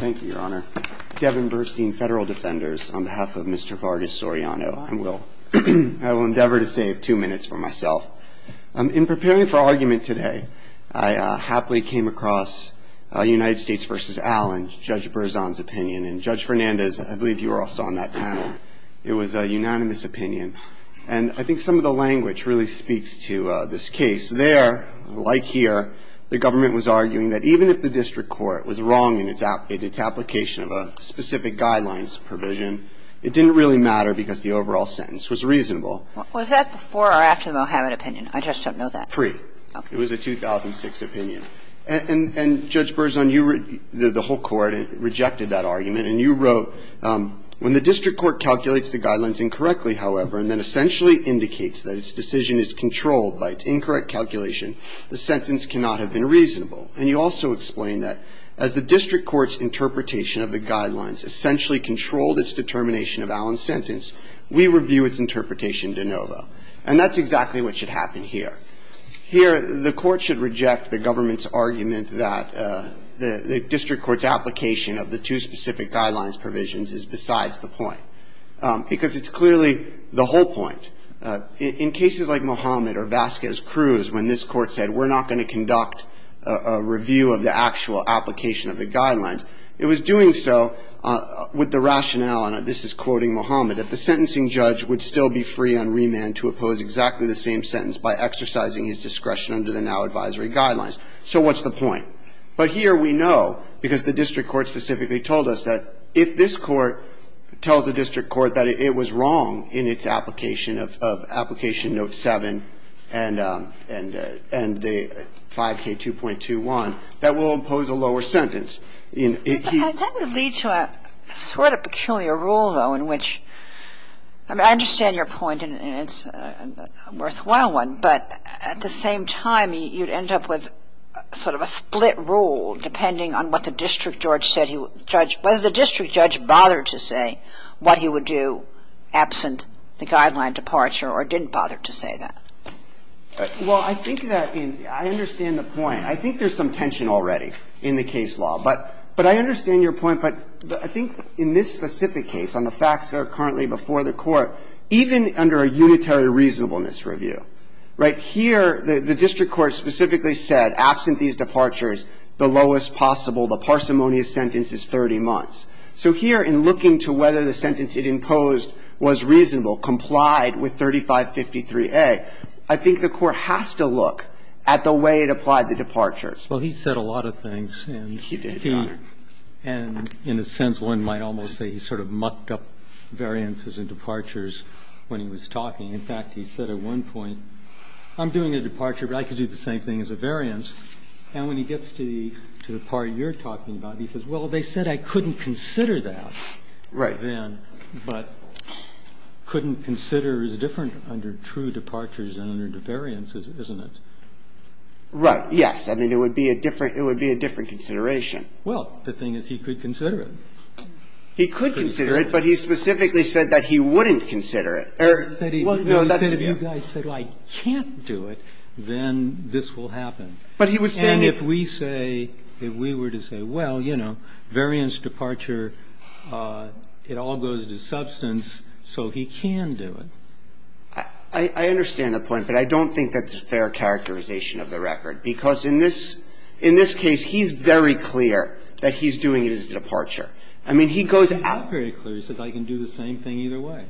Thank you, Your Honor. Devin Burstein, Federal Defenders, on behalf of Mr. Vargas-Soriano. I will endeavor to save two minutes for myself. In preparing for argument today, I happily came across United States v. Allen, Judge Berzon's opinion. And Judge Fernandez, I believe you were also on that panel. It was a unanimous opinion. And I think some of the language really speaks to this case. It's there, like here, the government was arguing that even if the district court was wrong in its application of a specific guidelines provision, it didn't really matter because the overall sentence was reasonable. Kagan Was that before or after the Mohammed opinion? I just don't know that. Burstein Free. Kagan Okay. Burstein It was a 2006 opinion. And Judge Berzon, you read the whole court and rejected that argument. And you wrote, when the district court calculates the guidelines incorrectly, however, and then essentially indicates that its decision is controlled by its incorrect calculation, the sentence cannot have been reasonable. And you also explain that as the district court's interpretation of the guidelines essentially controlled its determination of Allen's sentence, we review its interpretation de novo. And that's exactly what should happen here. Here, the court should reject the government's argument that the district court's application of the two specific guidelines provisions is besides the point because it's clearly the whole point. In cases like Mohammed or Vasquez-Cruz, when this court said we're not going to conduct a review of the actual application of the guidelines, it was doing so with the rationale, and this is quoting Mohammed, that the sentencing judge would still be free on remand to oppose exactly the same sentence by exercising his discretion under the now advisory guidelines. So what's the point? But here we know, because the district court specifically told us that if this court tells the district court that it was wrong in its application of Application No. 7 and the 5K2.21, that we'll impose a lower sentence. And that would lead to a sort of peculiar rule, though, in which, I mean, I understand your point, and it's a worthwhile one, but at the same time, you'd end up with sort of a split rule depending on what the district judge said he was going to impose. And I don't know whether the district judge, whether the district judge bothered to say what he would do absent the guideline departure or didn't bother to say that. Well, I think that in the – I understand the point. I think there's some tension already in the case law. But I understand your point, but I think in this specific case, on the facts that are currently before the Court, even under a unitary reasonableness review, right, here the district court specifically said, absent these departures, the lowest possible, the parsimonious sentence is 30 months. So here, in looking to whether the sentence it imposed was reasonable, complied with 3553A, I think the Court has to look at the way it applied the departures. Well, he said a lot of things. He did, Your Honor. And in a sense, one might almost say he sort of mucked up variances and departures when he was talking. In fact, he said at one point, I'm doing a departure, but I could do the same thing as a variance. And when he gets to the part you're talking about, he says, well, they said I couldn't consider that then. Right. But couldn't consider is different under true departures than under variances, isn't it? Right. Yes. I mean, it would be a different consideration. Well, the thing is, he could consider it. He could consider it, but he specifically said that he wouldn't consider it. He said he wouldn't consider it. He said, well, I can't do it, then this will happen. But he was saying if we say, if we were to say, well, you know, variance, departure, it all goes to substance, so he can do it. I understand the point, but I don't think that's a fair characterization of the record. Because in this case, he's very clear that he's doing it as a departure. I mean, he goes out very clear. He says I can do the same thing either way.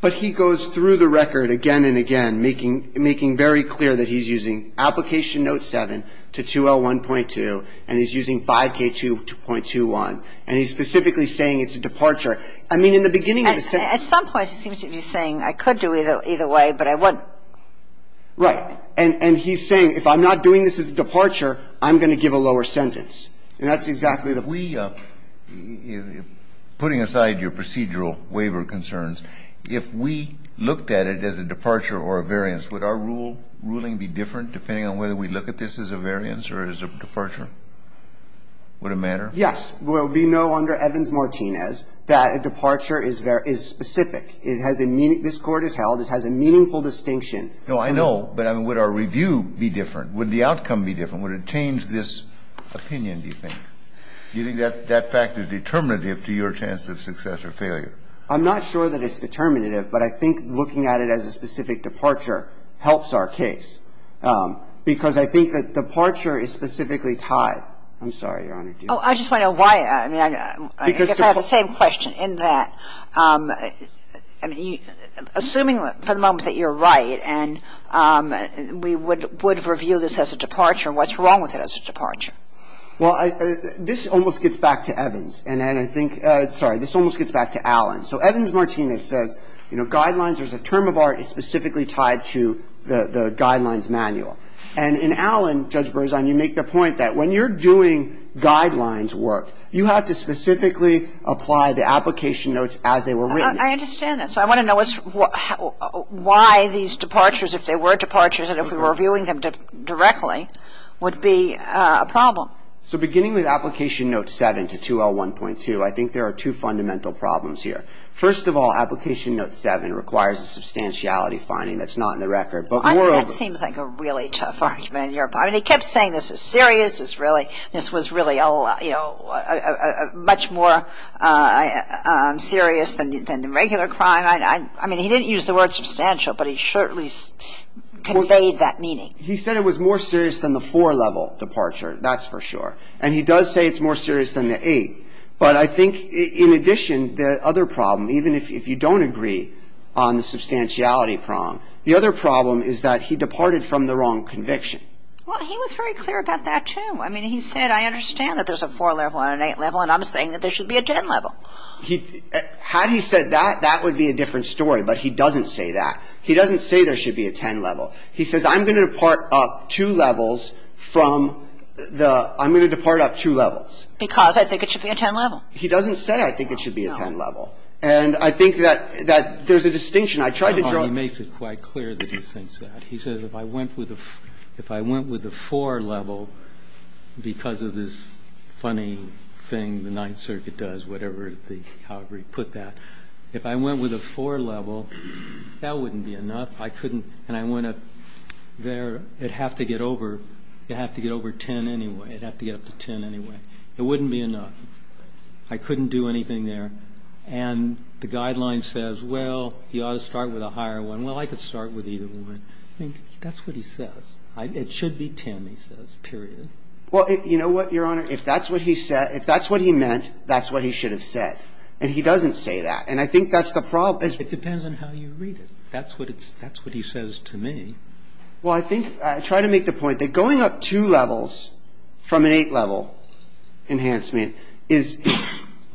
But he goes through the record again and again, making very clear that he's using Application Note 7 to 201.2, and he's using 5K2.21. And he's specifically saying it's a departure. I mean, in the beginning of the sentence. At some point he seems to be saying I could do either way, but I wouldn't. Right. And he's saying if I'm not doing this as a departure, I'm going to give a lower sentence. And that's exactly the point. Now, if we, putting aside your procedural waiver concerns, if we looked at it as a departure or a variance, would our ruling be different depending on whether we look at this as a variance or as a departure? Would it matter? Yes. Well, we know under Evans-Martinez that a departure is specific. It has a meaning. This Court has held it has a meaningful distinction. No, I know. But I mean, would our review be different? Would the outcome be different? Would it change this opinion, do you think? Do you think that fact is determinative to your chance of success or failure? I'm not sure that it's determinative, but I think looking at it as a specific departure helps our case, because I think that departure is specifically tied. I'm sorry, Your Honor. Oh, I just want to know why. I mean, I guess I have the same question in that, I mean, assuming for the moment that you're right and we would review this as a departure, what's wrong with it as a departure? Well, this almost gets back to Evans. And I think, sorry, this almost gets back to Allen. So Evans-Martinez says, you know, guidelines, there's a term of art, it's specifically tied to the guidelines manual. And in Allen, Judge Berzon, you make the point that when you're doing guidelines work, you have to specifically apply the application notes as they were written. I understand that. So I want to know why these departures, if they were departures and if we were reviewing them directly, would be a problem. So beginning with Application Note 7 to 2L1.2, I think there are two fundamental problems here. First of all, Application Note 7 requires a substantiality finding that's not in the record. But moreover – I mean, that seems like a really tough argument. I mean, he kept saying this is serious, this was really, you know, much more serious than the regular crime. I mean, he didn't use the word substantial, but he certainly conveyed that meaning. He said it was more serious than the four-level departure, that's for sure. And he does say it's more serious than the eight. But I think in addition, the other problem, even if you don't agree on the substantiality prong, the other problem is that he departed from the wrong conviction. Well, he was very clear about that, too. I mean, he said, I understand that there's a four-level and an eight-level, and I'm saying that there should be a ten-level. Had he said that, that would be a different story. But he doesn't say that. He doesn't say there should be a ten-level. He says I'm going to depart up two levels from the – I'm going to depart up two levels. Because I think it should be a ten-level. He doesn't say I think it should be a ten-level. And I think that there's a distinction. I tried to draw – He makes it quite clear that he thinks that. He says if I went with a four-level because of this funny thing the Ninth Circuit does, whatever the – however you put that, if I went with a four-level, that wouldn't be enough. I couldn't – and I went up there. It'd have to get over – it'd have to get over ten anyway. It'd have to get up to ten anyway. It wouldn't be enough. I couldn't do anything there. And the guideline says, well, you ought to start with a higher one. Well, I could start with either one. I think that's what he says. It should be ten, he says, period. Well, you know what, Your Honor? If that's what he meant, that's what he should have said. And he doesn't say that. And I think that's the problem. It depends on how you read it. That's what he says to me. Well, I think – I try to make the point that going up two levels from an eight-level enhancement is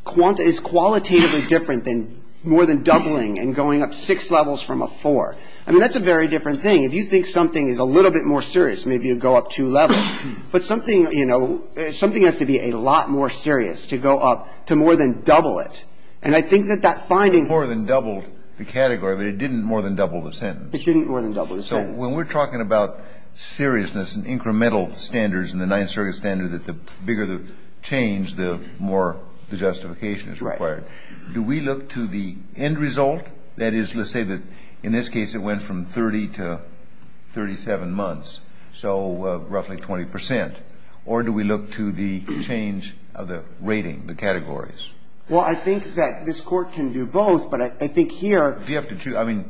qualitatively different than more than doubling and going up six levels from a four. I mean, that's a very different thing. If you think something is a little bit more serious, maybe you'd go up two levels. But something, you know, something has to be a lot more serious to go up to more than double it. And I think that that finding – More than doubled the category, but it didn't more than double the sentence. It didn't more than double the sentence. So when we're talking about seriousness and incremental standards in the Ninth Circuit standard that the bigger the change, the more the justification is required. Right. Do we look to the end result? That is, let's say that in this case it went from 30 to 37 months. So roughly 20 percent. Or do we look to the change of the rating, the categories? Well, I think that this Court can do both, but I think here – Do you have to choose? I mean,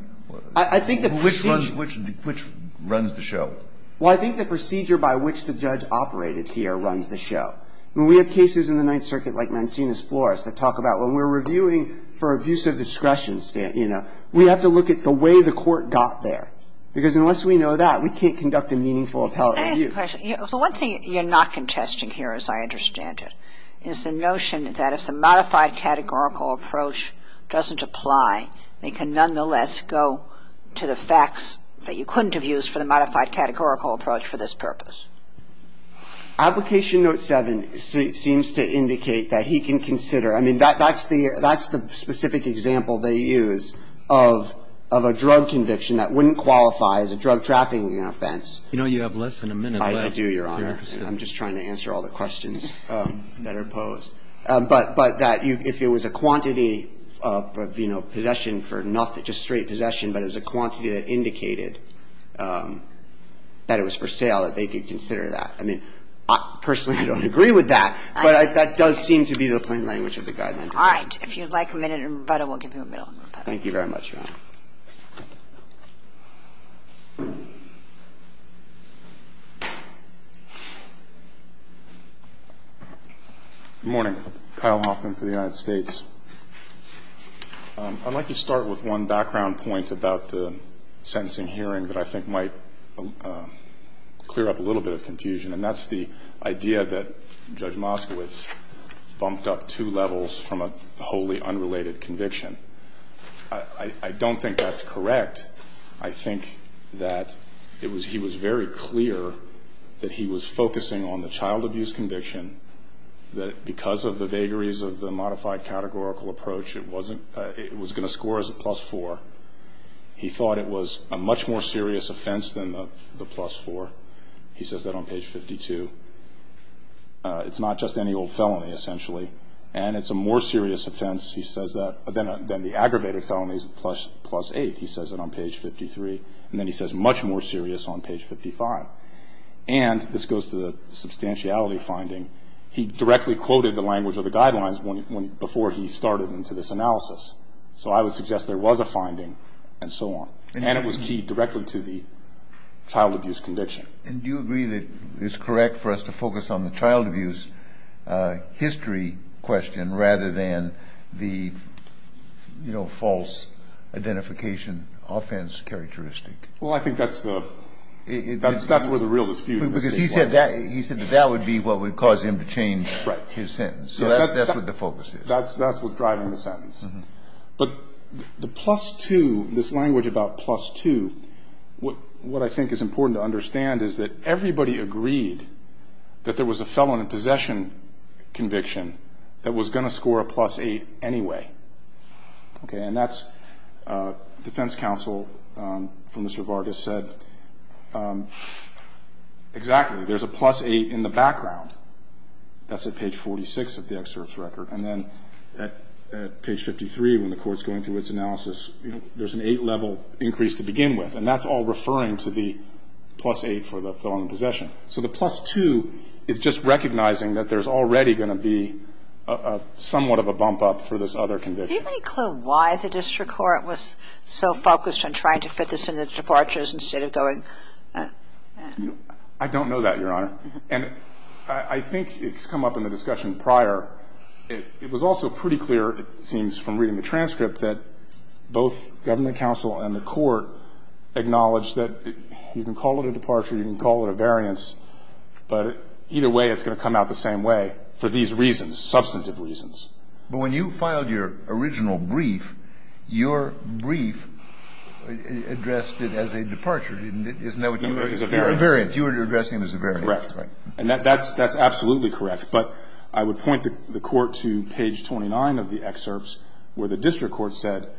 which runs the show? Well, I think the procedure by which the judge operated here runs the show. I mean, we have cases in the Ninth Circuit like Mancini's Flores that talk about when we're reviewing for abuse of discretion, you know, we have to look at the way the Court got there. Because unless we know that, we can't conduct a meaningful appellate review. Can I ask a question? The one thing you're not contesting here, as I understand it, is the notion that if the modified categorical approach doesn't apply, they can nonetheless go to the facts that you couldn't have used for the modified categorical approach for this purpose. Application Note 7 seems to indicate that he can consider – I mean, that's the specific example they use of a drug conviction that wouldn't qualify as a drug trafficking offense. You know, you have less than a minute left. I do, Your Honor. I'm just trying to answer all the questions that are posed. But that if it was a quantity of, you know, possession for nothing, just straight possession, but it was a quantity that indicated that it was for sale, that they could consider that. I mean, personally, I don't agree with that, but that does seem to be the plain language of the guideline. All right. If you'd like a minute in rebuttal, we'll give you a minute in rebuttal. Thank you very much, Your Honor. Good morning. Kyle Hoffman for the United States. I'd like to start with one background point about the sentencing hearing that I think might clear up a little bit of confusion, and that's the idea that Judge Moskowitz bumped up two levels from a wholly unrelated conviction. I don't think that's correct. I think that he was very clear that he was focusing on the child abuse conviction, that because of the vagaries of the modified categorical approach, it was going to score as a plus four. He thought it was a much more serious offense than the plus four. He says that on page 52. It's not just any old felony, essentially, and it's a more serious offense, he says that, than the aggravated felonies, plus eight. He says it on page 53. And then he says much more serious on page 55. And this goes to the substantiality finding. He directly quoted the language of the guidelines before he started into this analysis. So I would suggest there was a finding and so on. And it was keyed directly to the child abuse conviction. And do you agree that it's correct for us to focus on the child abuse history question rather than the, you know, false identification offense characteristic? Well, I think that's the real dispute. Because he said that would be what would cause him to change his sentence. So that's what the focus is. That's what's driving the sentence. But the plus two, this language about plus two, what I think is important to understand is that everybody agreed that there was a felon in possession conviction that was going to score a plus eight anyway. Okay. And that's defense counsel from Mr. Vargas said exactly. There's a plus eight in the background. That's at page 46 of the excerpt's record. And then at page 53, when the court's going through its analysis, you know, there's an eight-level increase to begin with. And that's all referring to the plus eight for the felon in possession. So the plus two is just recognizing that there's already going to be somewhat of a bump up for this other conviction. Do you have any clue why the district court was so focused on trying to fit this in the departures instead of going? I don't know that, Your Honor. And I think it's come up in the discussion prior. It was also pretty clear, it seems from reading the transcript, that both government counsel and the court acknowledged that you can call it a departure, you can call it a variance, but either way it's going to come out the same way for these reasons, substantive reasons. But when you filed your original brief, your brief addressed it as a departure, didn't it? Isn't that what you were addressing? It was a variance. You were addressing it as a variance. Correct. And that's absolutely correct. But I would point the court to page 29 of the excerpts where the district court said,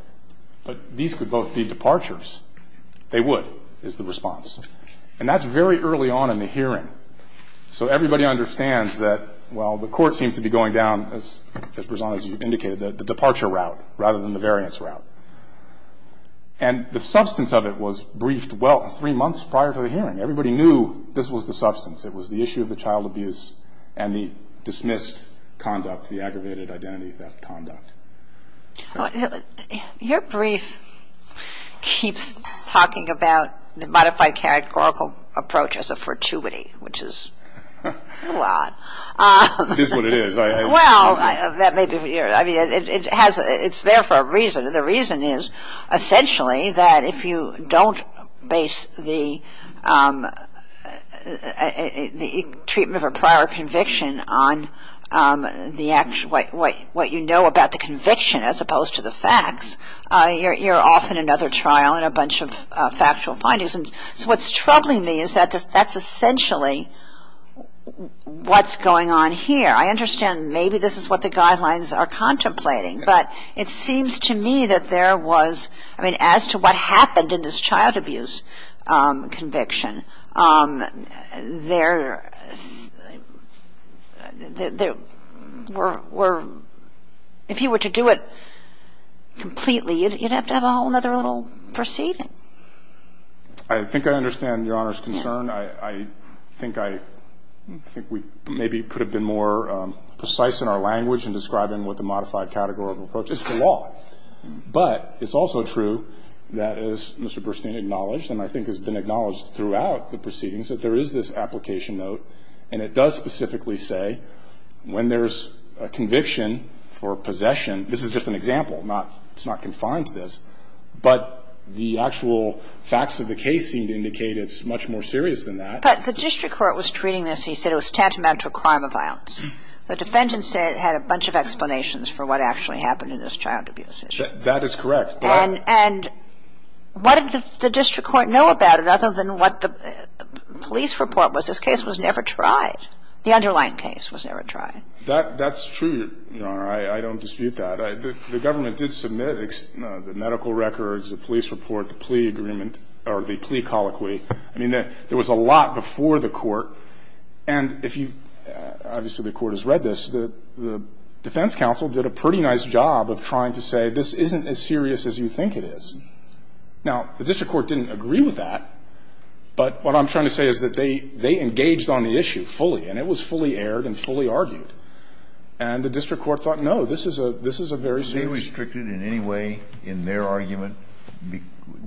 but these could both be departures. They would, is the response. And that's very early on in the hearing. So everybody understands that, well, the court seems to be going down, as Ms. Brezon has indicated, the departure route rather than the variance route. And the substance of it was briefed, well, three months prior to the hearing. Everybody knew this was the substance. It was the issue of the child abuse and the dismissed conduct, the aggravated identity theft conduct. Your brief keeps talking about the modified categorical approach as a fortuity, which is a lot. It is what it is. Well, that may be, I mean, it has, it's there for a reason. The reason is essentially that if you don't base the treatment of a prior conviction on the actual, what you know about the conviction as opposed to the facts, you're off in another trial and a bunch of factual findings. And so what's troubling me is that that's essentially what's going on here. I understand maybe this is what the guidelines are contemplating. But it seems to me that there was, I mean, as to what happened in this child abuse conviction, there were, if you were to do it completely, you'd have to have a whole other little proceeding. I think I understand Your Honor's concern. I think I think we maybe could have been more precise in our language in describing what the modified categorical approach is to law. But it's also true that, as Mr. Burstein acknowledged and I think has been acknowledged throughout the proceedings, that there is this application note and it does specifically say when there's a conviction for possession, this is just an example, not, it's not confined to this, but the actual facts of the case seem to indicate it's much more serious than that. But the district court was treating this and he said it was tantamount to a crime of violence. The defendant said it had a bunch of explanations for what actually happened in this child abuse issue. That is correct. And what did the district court know about it other than what the police report was? This case was never tried. The underlying case was never tried. That's true, Your Honor. I don't dispute that. The government did submit the medical records, the police report, the plea agreement or the plea colloquy. I mean, there was a lot before the court. And if you, obviously the court has read this, the defense counsel did a pretty nice job of trying to say this isn't as serious as you think it is. Now, the district court didn't agree with that, but what I'm trying to say is that they, they engaged on the issue fully and it was fully aired and fully argued. And the district court thought, no, this is a, this is a very serious. Did they restrict it in any way in their argument,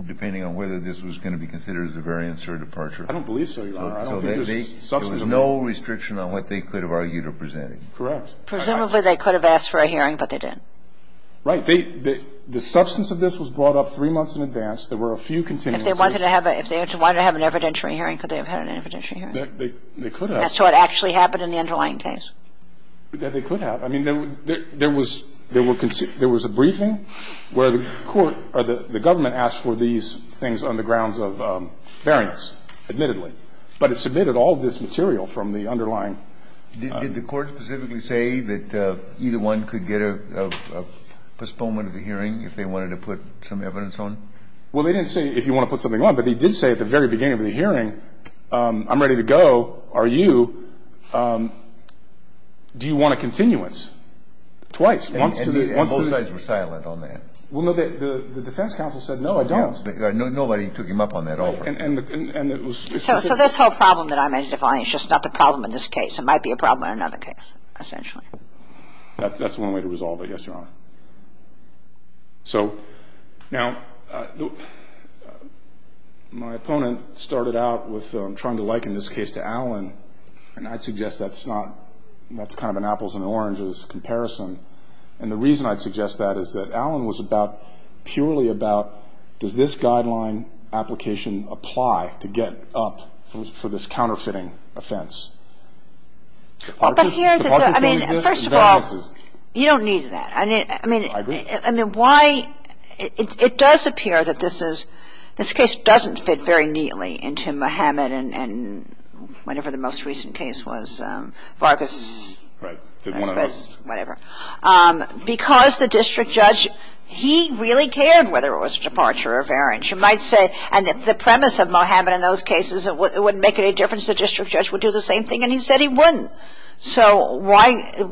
depending on whether this was going to be considered as a variance or a departure? I don't believe so, Your Honor. There was no restriction on what they could have argued or presented. Correct. Presumably they could have asked for a hearing, but they didn't. Right. The substance of this was brought up three months in advance. There were a few continuances. If they wanted to have a, if they wanted to have an evidentiary hearing, could they have had an evidentiary hearing? They could have. As to what actually happened in the underlying case? They could have. I mean, there was, there were, there was a briefing where the court or the government asked for these things on the grounds of variance, admittedly. But it submitted all of this material from the underlying. Did the court specifically say that either one could get a postponement of the hearing if they wanted to put some evidence on? Well, they didn't say if you want to put something on, but they did say at the very beginning of the hearing, I'm ready to go. Are you, do you want a continuance? Twice. And both sides were silent on that. Well, no, the defense counsel said, no, I don't. Nobody took him up on that offer. And the, and it was. So this whole problem that I'm identifying is just not the problem in this case. It might be a problem in another case, essentially. That's one way to resolve it, yes, Your Honor. So, now, my opponent started out with trying to liken this case to Allen. And I'd suggest that's not, that's kind of an apples and oranges comparison. And the reason I'd suggest that is that Allen was about, purely about, does this apply to get up for this counterfeiting offense? Departures? Departures don't exist. First of all, you don't need that. I mean, why, it does appear that this is, this case doesn't fit very neatly into Mohammed and whatever the most recent case was, Vargas. Right. Whatever. Because the district judge, he really cared whether it was departure or variance. You might say, and the premise of Mohammed in those cases, it wouldn't make any difference. The district judge would do the same thing. And he said he wouldn't. So why,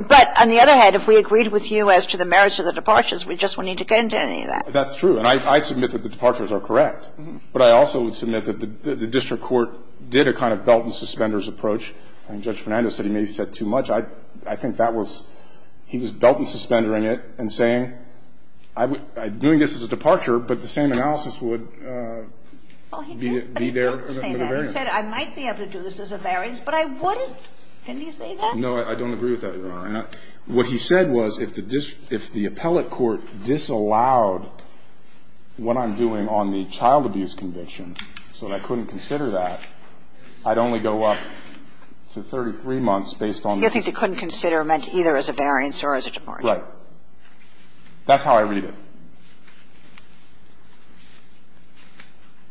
but on the other hand, if we agreed with you as to the merits of the departures, we just wouldn't need to get into any of that. That's true. And I submit that the departures are correct. But I also submit that the district court did a kind of belt and suspenders approach. I think Judge Fernandez said he maybe said too much. I think that was, he was belt and suspendering it and saying, doing this as a departure, but the same analysis would be there as a variance. He said I might be able to do this as a variance, but I wouldn't. Didn't he say that? No. I don't agree with that, Your Honor. What he said was if the appellate court disallowed what I'm doing on the child abuse conviction, so that I couldn't consider that, I'd only go up to 33 months based on the district court. You think they couldn't consider it meant either as a variance or as a departure. Right. That's how I read it.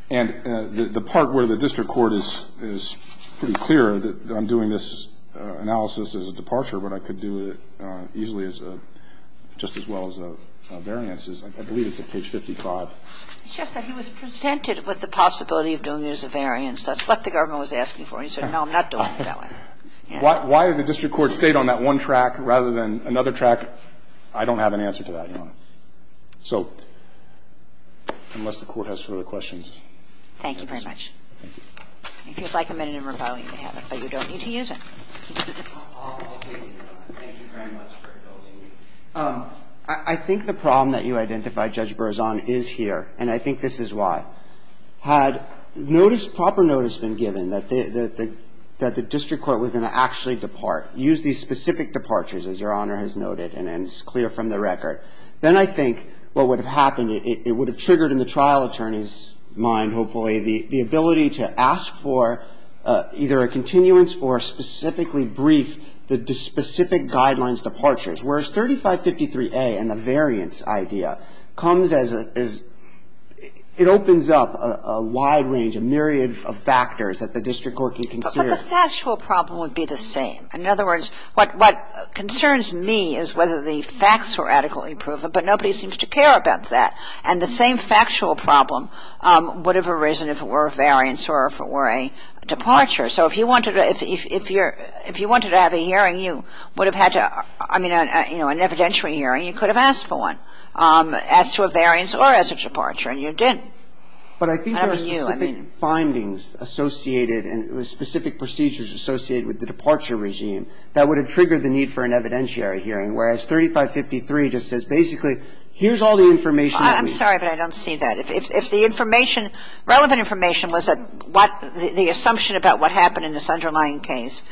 And the part where the district court is pretty clear that I'm doing this analysis as a departure, but I could do it easily as a, just as well as a variance, is I believe it's at page 55. Justice, he was presented with the possibility of doing it as a variance. That's what the government was asking for. He said, no, I'm not doing it that way. Why did the district court stay on that one track rather than another track? I don't have an answer to that, Your Honor. So unless the Court has further questions. Thank you very much. Thank you. If you'd like a minute in rebuttal, you may have it, but you don't need to use it. I'll take your time. Thank you very much for indulging me. I think the problem that you identified, Judge Berzon, is here, and I think this is why. Had notice, proper notice been given that the district court was going to actually depart, use these specific departures, as Your Honor has noted, and it's clear from the record. Then I think what would have happened, it would have triggered in the trial attorney's mind, hopefully, the ability to ask for either a continuance or specifically brief the specific guidelines departures, whereas 3553A and the variance idea comes as a – it opens up a wide range, a myriad of factors that the district court can consider. But the factual problem would be the same. In other words, what concerns me is whether the facts were adequately proven, but nobody seems to care about that. And the same factual problem would have arisen if it were a variance or if it were a departure. So if you wanted to have a hearing, you would have had to – I mean, you know, an evidentiary hearing, you could have asked for one as to a variance or as a departure, and you didn't. I don't know about you. But I think there are specific findings associated and specific procedures associated with the departure regime that would have triggered the need for an evidentiary hearing, whereas 3553 just says basically, here's all the information that we need. I'm sorry, but I don't see that. If the information – relevant information was the assumption about what happened in this underlying case,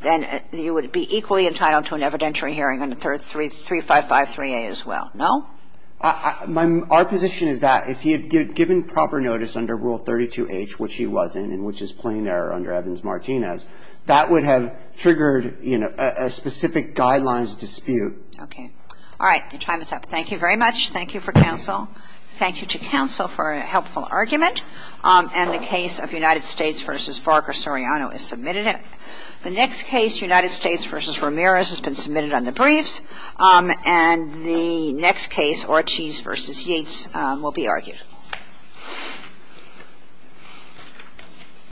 then you would be equally entitled to an evidentiary hearing under 3553A as well, no? Our position is that if he had given proper notice under Rule 32H, which he wasn't and which is plain error under Evans-Martinez, that would have triggered, you know, a specific guidelines dispute. Okay. All right. Your time is up. Thank you very much. Thank you for counsel. Thank you to counsel for a helpful argument. And the case of United States v. Barker-Soriano is submitted. The next case, United States v. Ramirez, has been submitted on the briefs. And the next case, Ortiz v. Yates, will be argued. Thank you.